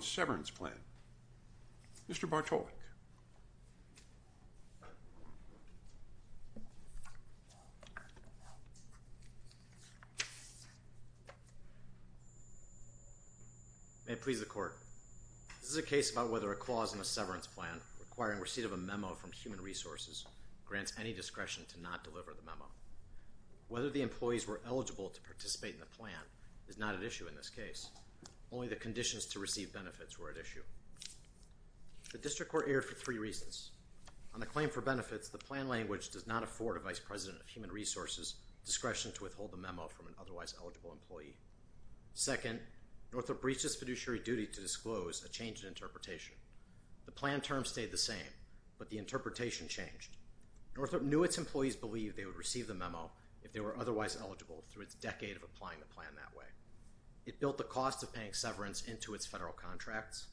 Severance Plan. Mr. Bartolek. May it please the Court. This is a case about whether a clause in a severance plan requiring receipt of a memo from Human Resources grants any discretion to not deliver the memo. Whether the employees were eligible to participate in the plan is not at issue in this case. Only the conditions to receive benefits were at issue. The District Court erred for three reasons. On the claim for benefits, the plan language does not afford a Vice President of Human Resources discretion to withhold the memo from an otherwise eligible employee. Second, Northrop breached its fiduciary duty to disclose a change in interpretation. The plan term stayed the same, but the interpretation changed. Northrop knew its employees believed they would receive the memo if they were otherwise eligible through its decade of applying the severance into its federal contracts,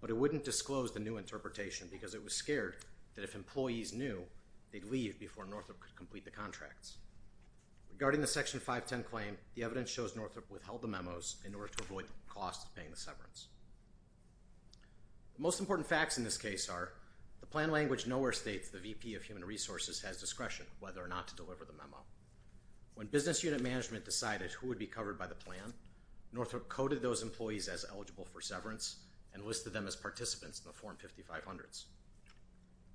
but it wouldn't disclose the new interpretation because it was scared that if employees knew, they'd leave before Northrop could complete the contracts. Regarding the Section 510 claim, the evidence shows Northrop withheld the memos in order to avoid the cost of paying the severance. The most important facts in this case are the plan language nowhere states the VP of Human Resources has discretion whether or not to deliver the memo. When business unit management decided who would be covered by the plan, Northrop coded those employees as eligible for severance and listed them as participants in the Form 5500s.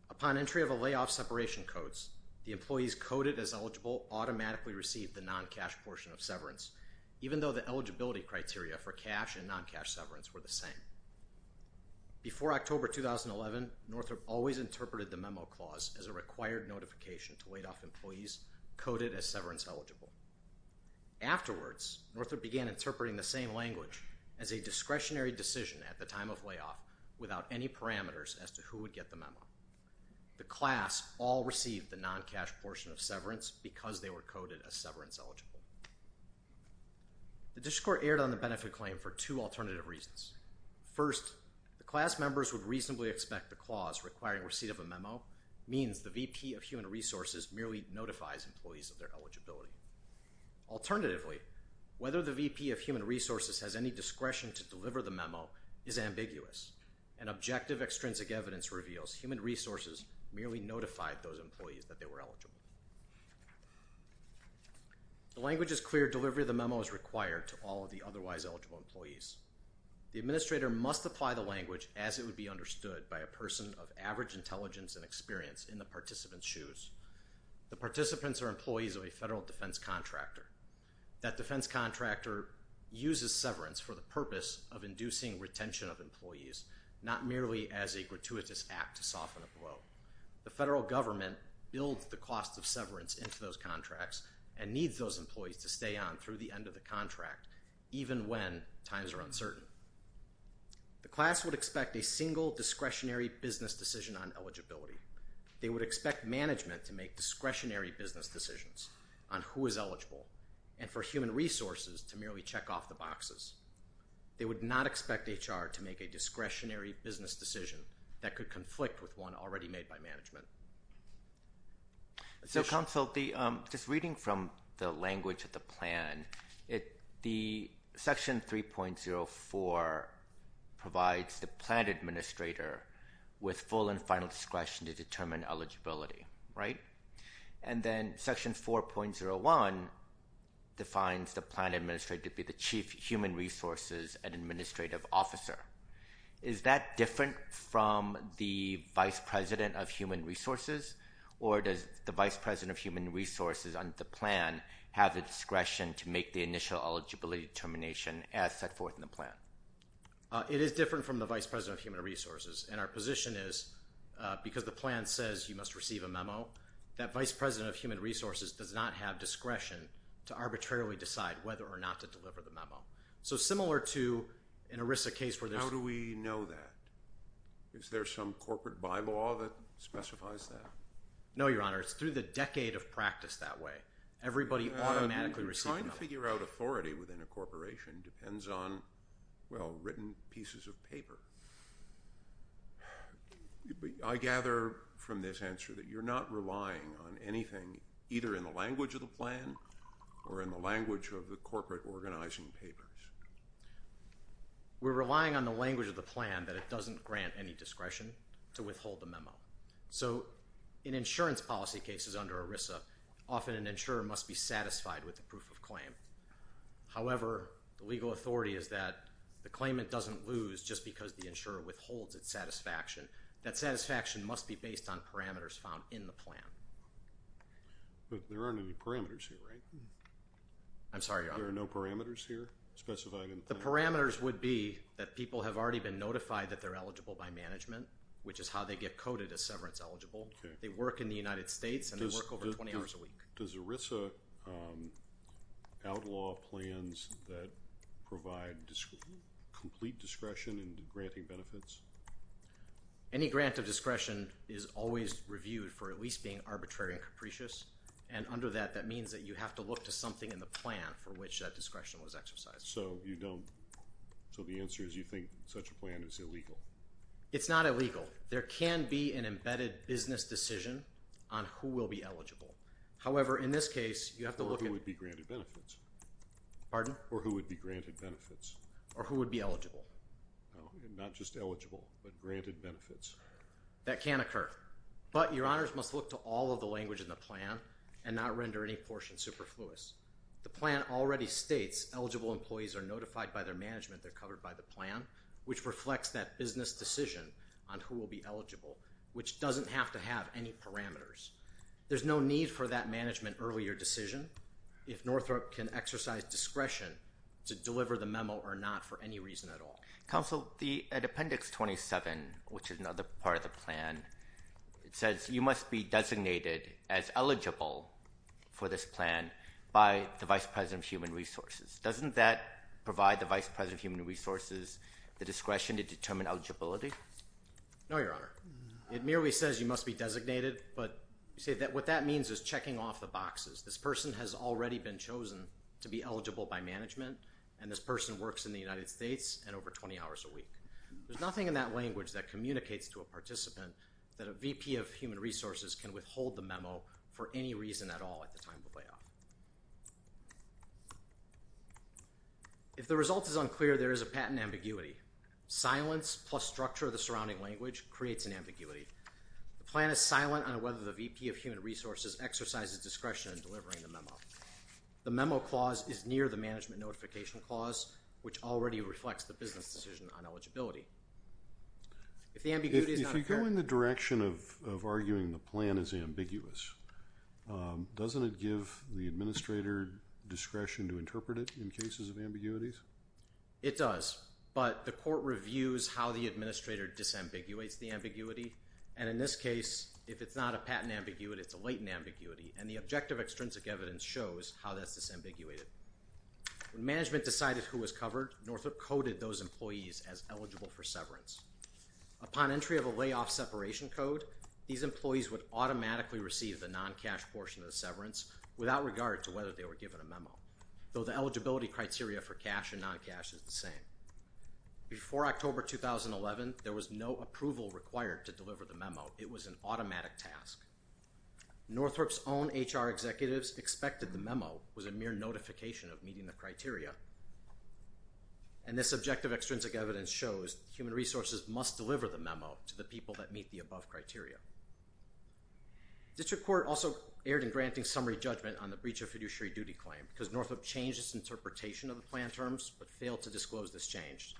Upon entry of a layoff separation codes, the employees coded as eligible automatically received the non-cash portion of severance, even though the eligibility criteria for cash and non-cash severance were the same. Before October 2011, Northrop always interpreted the memo clause as a required notification to wait off employees coded as severance eligible. Afterwards, Northrop began interpreting the same language as a discretionary decision at the time of layoff without any parameters as to who would get the memo. The class all received the non-cash portion of severance because they were coded as severance eligible. The district court erred on the benefit claim for two alternative reasons. First, the class members would reasonably expect the clause requiring receipt of a memo means the VP of Human Resources merely notifies employees of their eligibility. Alternatively, whether the VP of Human Resources has any discretion to deliver the memo is ambiguous and objective extrinsic evidence reveals Human Resources merely notified those employees that they were eligible. The language is clear delivery of the memo is required to all of the otherwise eligible employees. The administrator must apply the language as it would be understood by a person of average intelligence and experience in the participant's shoes. The participants are employees of a federal defense contractor. That defense contractor uses severance for the purpose of inducing retention of employees, not merely as a gratuitous act to soften a blow. The federal government builds the cost of severance into those contracts and needs those employees to stay on through the end of the contract even when times are uncertain. The class would expect a single discretionary business decision on eligibility. They would expect management to make discretionary business decisions on who is eligible and for Human Resources to merely check off the boxes. They would not expect HR to make a discretionary business decision that could conflict with one already made by management. So, Counsel, just reading from the language of the plan, Section 3.04 provides the plan administrator with full and final discretion to determine eligibility, right? And then Section 4.01 defines the plan administrator to be the chief Human Resources and administrative officer. Is that different from the vice president of Human Resources, or does the vice president of Human Resources under the plan have the discretion to make the initial eligibility determination as set forth in the plan? It is different from the vice president of Human Resources, and our position is, because the plan says you must receive a memo, that vice president of Human Resources does not have discretion to arbitrarily decide whether or not to deliver the memo. So similar to an ERISA case where there's... How do we know that? Is there some corporate bylaw that specifies that? No, Your Honor. It's through the decade of practice that way. Everybody automatically receives a memo. Trying to figure out authority within a corporation depends on, well, written pieces of paper. I gather from this answer that you're not relying on anything either in the language of the plan or in the language of the corporate organizing papers. We're relying on the language of the plan that it doesn't grant any discretion to withhold the memo. So in insurance policy cases under ERISA, often an insurer must be satisfied with the proof of claim. However, the legal authority is that the claimant doesn't lose just because the insurer withholds its satisfaction. That satisfaction must be based on parameters found in the plan. But there aren't any parameters here, right? I'm sorry, Your Honor? There are no parameters here specified in the plan? The parameters would be that people have already been notified that they're eligible by management, which is how they get coded as severance eligible. They work in the United States and they work over 20 hours a week. Does ERISA outlaw plans that provide complete discretion in granting benefits? Any grant of discretion is always reviewed for at least being arbitrary and capricious. And under that, that means that you have to look to something in the plan for which that discretion was exercised. So the answer is you think such a plan is illegal? It's not illegal. There can be an embedded business decision on who will be eligible. However, in this case, you have to look at... Or who would be granted benefits. Pardon? Or who would be granted benefits. Or who would be eligible. Not just eligible, but granted benefits. That can occur. But Your Honors must look to all of the language in the plan and not render any portion superfluous. The plan already states eligible employees are notified by their management. They're covered by the plan, which reflects that business decision on who will be eligible, which doesn't have to have any parameters. There's no need for that management earlier decision. If Northrop can exercise discretion to deliver the memo or not for any reason at all. Counsel, at Appendix 27, which is another part of the plan, it says you must be designated as eligible for this plan by the Vice President of Human Resources. Doesn't that provide the Vice President of Human Resources the discretion to determine eligibility? No, Your Honor. It merely says you must be designated, but what that means is checking off the boxes. This person has already been chosen to be eligible by management, and this person works in the United States and over 20 hours a week. There's nothing in that language that communicates to a participant that a VP of Human Resources can withhold the memo for any reason at all at the time of the layoff. If the result is unclear, there is a patent ambiguity. Silence plus structure of the surrounding language creates an ambiguity. The plan is silent on whether the VP of Human Resources exercises discretion in delivering the memo. The memo clause is near the management notification clause, which already reflects the business decision on eligibility. If you go in the direction of arguing the plan is ambiguous, doesn't it give the administrator discretion to interpret it in cases of ambiguities? It does, but the court reviews how the administrator disambiguates the ambiguity, and in this case, if it's not a patent ambiguity, it's a latent ambiguity, and the objective extrinsic evidence shows how that's disambiguated. When management decided who was covered, Northrop coded those employees as eligible for severance. Upon entry of a layoff separation code, these employees would automatically receive the non-cash portion of the severance without regard to whether they were given a memo, though the eligibility criteria for cash and non-cash is the same. Before October 2011, there was no approval required to deliver the memo. It was an automatic task. Northrop's own HR executives expected the memo was a mere notification of meeting the criteria, and this objective extrinsic evidence shows human resources must deliver the memo to the people that meet the above criteria. District Court also erred in granting summary judgment on the breach of fiduciary duty claim because Northrop changed its interpretation of the plan terms but failed to disclose this change.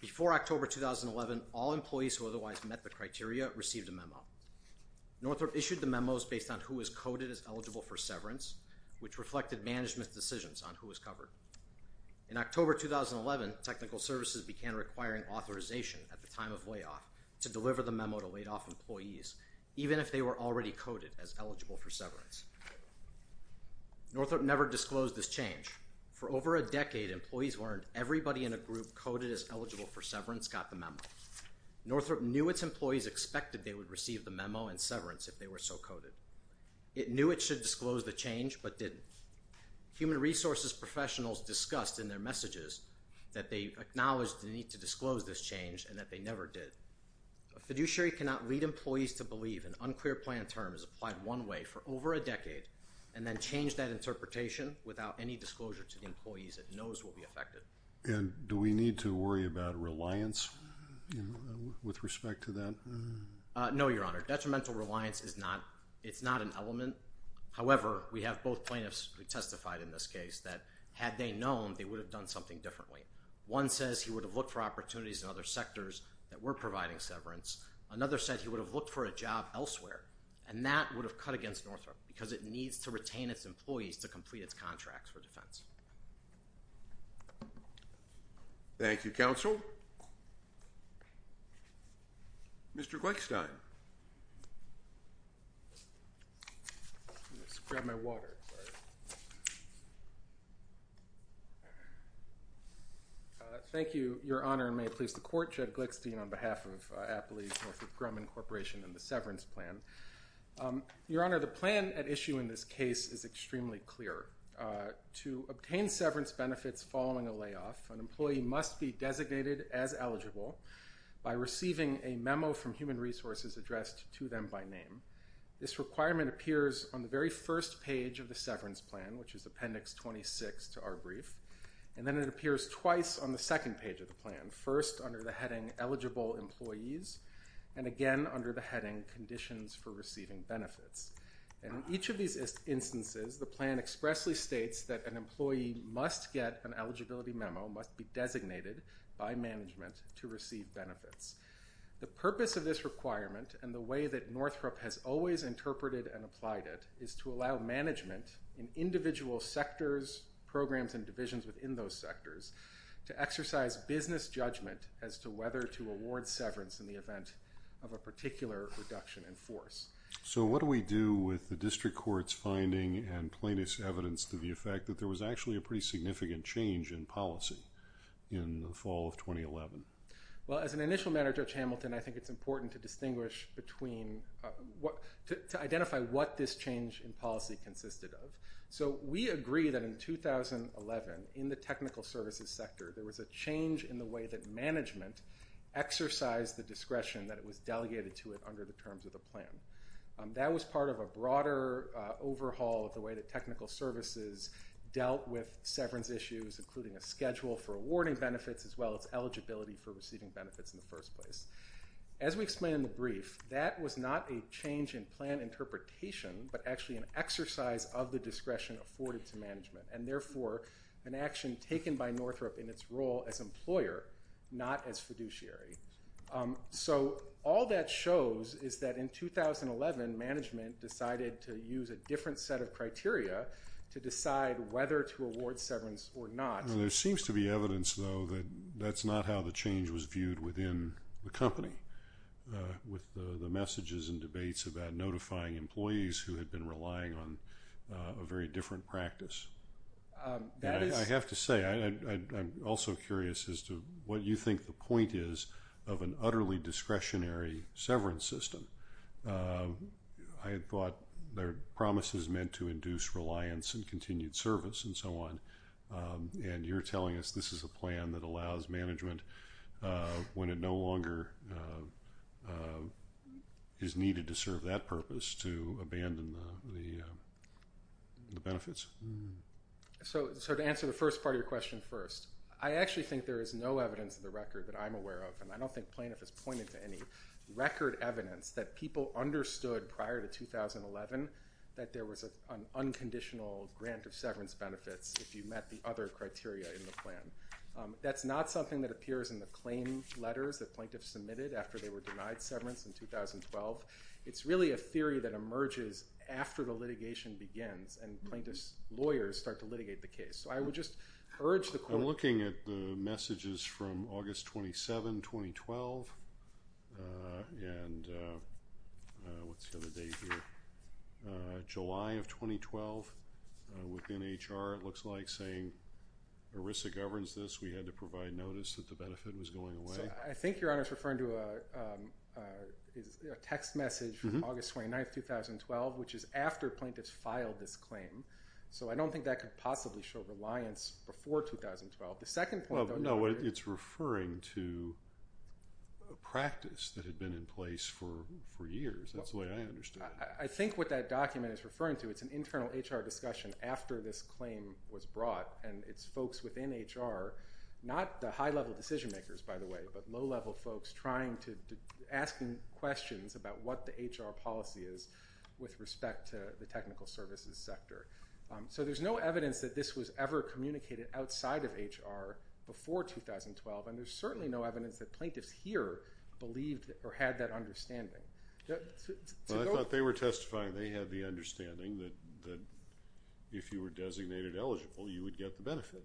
Before October 2011, all employees who otherwise met the criteria received a memo. Northrop issued the memos based on who was coded as eligible for severance, which reflected management's decisions on who was covered. In October 2011, technical services began requiring authorization at the time of layoff to deliver the memo to laid-off employees, even if they were already coded as eligible for severance. Northrop never disclosed this change. For over a decade, employees who earned everybody in a group coded as eligible for severance got the memo. Northrop knew its employees expected they would receive the memo and severance if they were so coded. It knew it should disclose the change but didn't. Human resources professionals discussed in their messages that they acknowledged the need to disclose this change and that they never did. A fiduciary cannot lead employees to believe an unclear plan term is applied one way for over a decade and then change that interpretation without any disclosure to the employees it knows will be affected. And do we need to worry about reliance with respect to that? No, Your Honor. Detrimental reliance is not an element. However, we have both plaintiffs who testified in this case that had they known, they would have done something differently. One says he would have looked for opportunities in other sectors that were providing severance. Another said he would have looked for a job elsewhere, and that would have cut against Northrop because it needs to retain its employees to complete its contracts for defense. Thank you, Counsel. Mr. Gleickstein. Let me just grab my water. Thank you, Your Honor, and may it please the Court. Judge Ed Gleickstein on behalf of Appalachian-Northrop Grumman Corporation and the severance plan. Your Honor, the plan at issue in this case is extremely clear. To obtain severance benefits following a layoff, an employee must be designated as eligible by receiving a memo from Human Resources addressed to them by name. This requirement appears on the very first page of the severance plan, which is Appendix 26 to our brief, and then it appears twice on the second page of the plan, first under the heading Eligible Employees, and again under the heading Conditions for Receiving Benefits. In each of these instances, the plan expressly states that an employee must get an eligibility memo, must be designated by management to receive benefits. The purpose of this requirement and the way that Northrop has always interpreted and applied it is to allow management in individual sectors, programs, and divisions within those sectors to exercise business judgment as to whether to award severance in the event of a particular reduction in force. So what do we do with the district court's finding and plaintiff's evidence to the effect that there was actually a pretty significant change in policy in the fall of 2011? Well, as an initial matter, Judge Hamilton, I think it's important to distinguish between to identify what this change in policy consisted of. So we agree that in 2011, in the technical services sector, there was a change in the way that management exercised the discretion that was delegated to it under the terms of the plan. That was part of a broader overhaul of the way that technical services dealt with severance issues, including a schedule for awarding benefits as well as eligibility for receiving benefits in the first place. As we explain in the brief, that was not a change in plan interpretation, but actually an exercise of the discretion afforded to management, and therefore an action taken by Northrop in its role as employer, not as fiduciary. So all that shows is that in 2011, management decided to use a different set of criteria to decide whether to award severance or not. There seems to be evidence, though, that that's not how the change was viewed within the company, with the messages and debates about notifying employees who had been relying on a very different practice. I have to say, I'm also curious as to what you think the point is of an utterly discretionary severance system. I thought their promise is meant to induce reliance and continued service and so on, and you're telling us this is a plan that allows management, when it no longer is needed to serve that purpose, to abandon the benefits. So to answer the first part of your question first, I actually think there is no evidence in the record that I'm aware of, and I don't think Plaintiff has pointed to any record evidence, that people understood prior to 2011 that there was an unconditional grant of severance benefits if you met the other criteria in the plan. That's not something that appears in the claim letters that Plaintiffs submitted after they were denied severance in 2012. It's really a theory that emerges after the litigation begins and Plaintiffs' lawyers start to litigate the case. I'm looking at the messages from August 27, 2012 and July of 2012 within HR. It looks like it's saying ERISA governs this. We had to provide notice that the benefit was going away. I think Your Honor is referring to a text message from August 29, 2012, which is after Plaintiffs filed this claim. So I don't think that could possibly show reliance before 2012. The second point though, Your Honor. Well, no, it's referring to a practice that had been in place for years. That's the way I understand it. I think what that document is referring to, it's an internal HR discussion after this claim was brought, and it's folks within HR, not the high-level decision makers, by the way, but low-level folks asking questions about what the HR policy is with respect to the technical services sector. So there's no evidence that this was ever communicated outside of HR before 2012, and there's certainly no evidence that Plaintiffs here believed or had that understanding. Well, I thought they were testifying. They had the understanding that if you were designated eligible, you would get the benefit.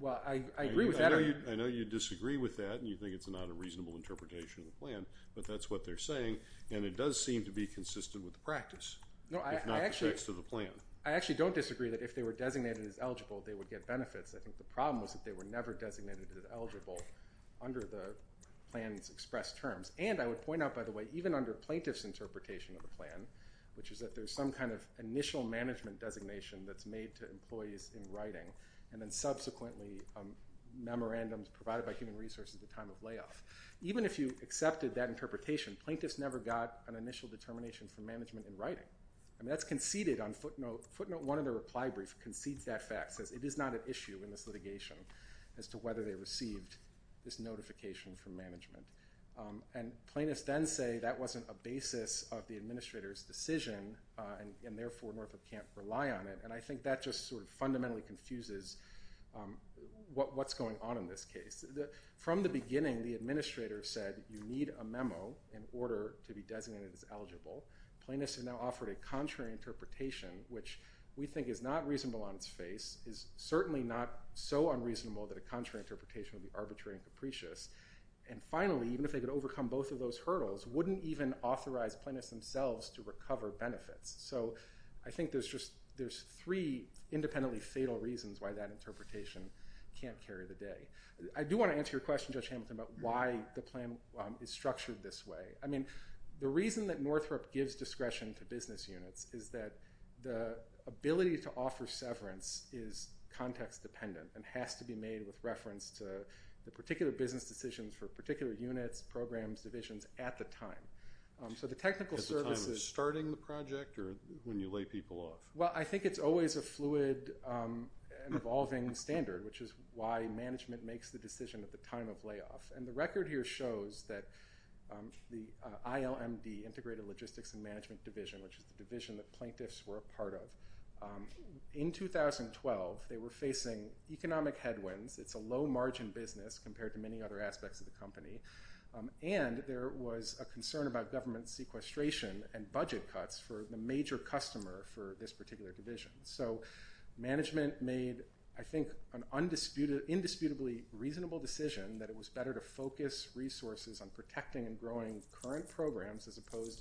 Well, I agree with that. I know you disagree with that, and you think it's not a reasonable interpretation of the plan, but that's what they're saying. And it does seem to be consistent with the practice, if not the text of the plan. I actually don't disagree that if they were designated as eligible, they would get benefits. I think the problem was that they were never designated as eligible under the plan's expressed terms. And I would point out, by the way, even under Plaintiffs' interpretation of the plan, which is that there's some kind of initial management designation that's made to employees in writing, and then subsequently memorandums provided by Human Resources at the time of layoff. Even if you accepted that interpretation, plaintiffs never got an initial determination from management in writing. I mean, that's conceded on footnote. Footnote 1 of the reply brief concedes that fact, says it is not an issue in this litigation as to whether they received this notification from management. And plaintiffs then say that wasn't a basis of the administrator's decision, and therefore Norfolk can't rely on it. And I think that just sort of fundamentally confuses what's going on in this case. From the beginning, the administrator said you need a memo in order to be designated as eligible. Plaintiffs have now offered a contrary interpretation, which we think is not reasonable on its face, is certainly not so unreasonable that a contrary interpretation would be arbitrary and capricious. And finally, even if they could overcome both of those hurdles, wouldn't even authorize plaintiffs themselves to recover benefits. So I think there's three independently fatal reasons why that interpretation can't carry the day. I do want to answer your question, Judge Hamilton, about why the plan is structured this way. I mean, the reason that Northrop gives discretion to business units is that the ability to offer severance is context-dependent and has to be made with reference to the particular business decisions for particular units, programs, divisions at the time. So the technical services- At the time of starting the project or when you lay people off? Well, I think it's always a fluid and evolving standard, which is why management makes the decision at the time of layoff. And the record here shows that the ILMD, Integrated Logistics and Management Division, which is the division that plaintiffs were a part of, in 2012, they were facing economic headwinds. It's a low-margin business compared to many other aspects of the company. And there was a concern about government sequestration and budget cuts for the major customer for this particular division. So management made, I think, an indisputably reasonable decision that it was better to focus resources on protecting and growing current programs as opposed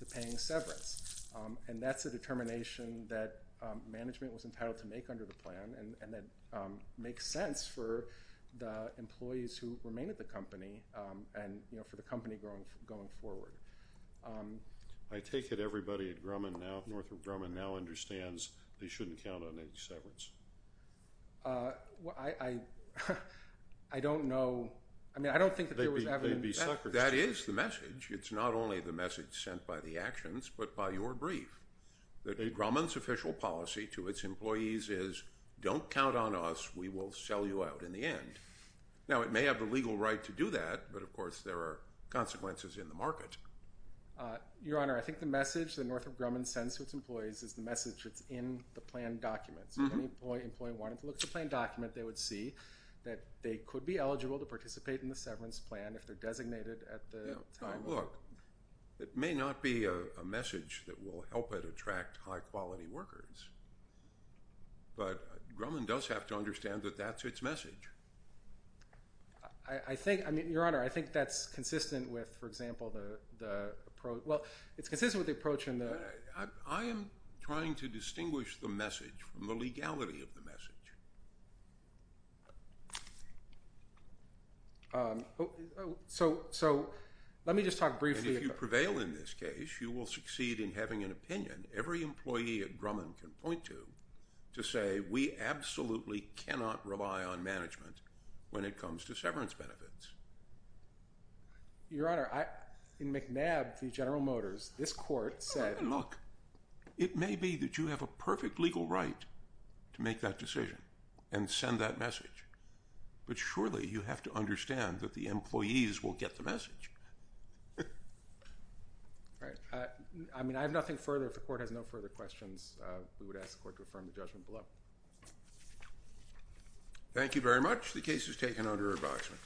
to paying severance. And that's a determination that management was entitled to make under the plan, and that makes sense for the employees who remain at the company and for the company going forward. I take it everybody at Grumman now, at Northrop Grumman, now understands they shouldn't count on any severance? I don't know. I mean, I don't think that there was ever- They'd be suckers. That is the message. It's not only the message sent by the actions, but by your brief. That a Grumman's official policy to its employees is, don't count on us, we will sell you out in the end. Now, it may have the legal right to do that, but of course there are consequences in the market. Your Honor, I think the message that Northrop Grumman sends to its employees is the message that's in the plan documents. If any employee wanted to look at the plan document, they would see that they could be eligible to participate in the severance plan if they're designated at the time. Look, it may not be a message that will help it attract high quality workers, but Grumman does have to understand that that's its message. I think – I mean, Your Honor, I think that's consistent with, for example, the approach – well, it's consistent with the approach in the- I am trying to distinguish the message from the legality of the message. So let me just talk briefly about- And if you prevail in this case, you will succeed in having an opinion every employee at Grumman can point to, to say we absolutely cannot rely on management when it comes to severance benefits. Your Honor, in McNabb v. General Motors, this court said- But surely you have to understand that the employees will get the message. All right. I mean, I have nothing further. If the court has no further questions, we would ask the court to affirm the judgment below. Thank you very much. The case is taken under reboxment.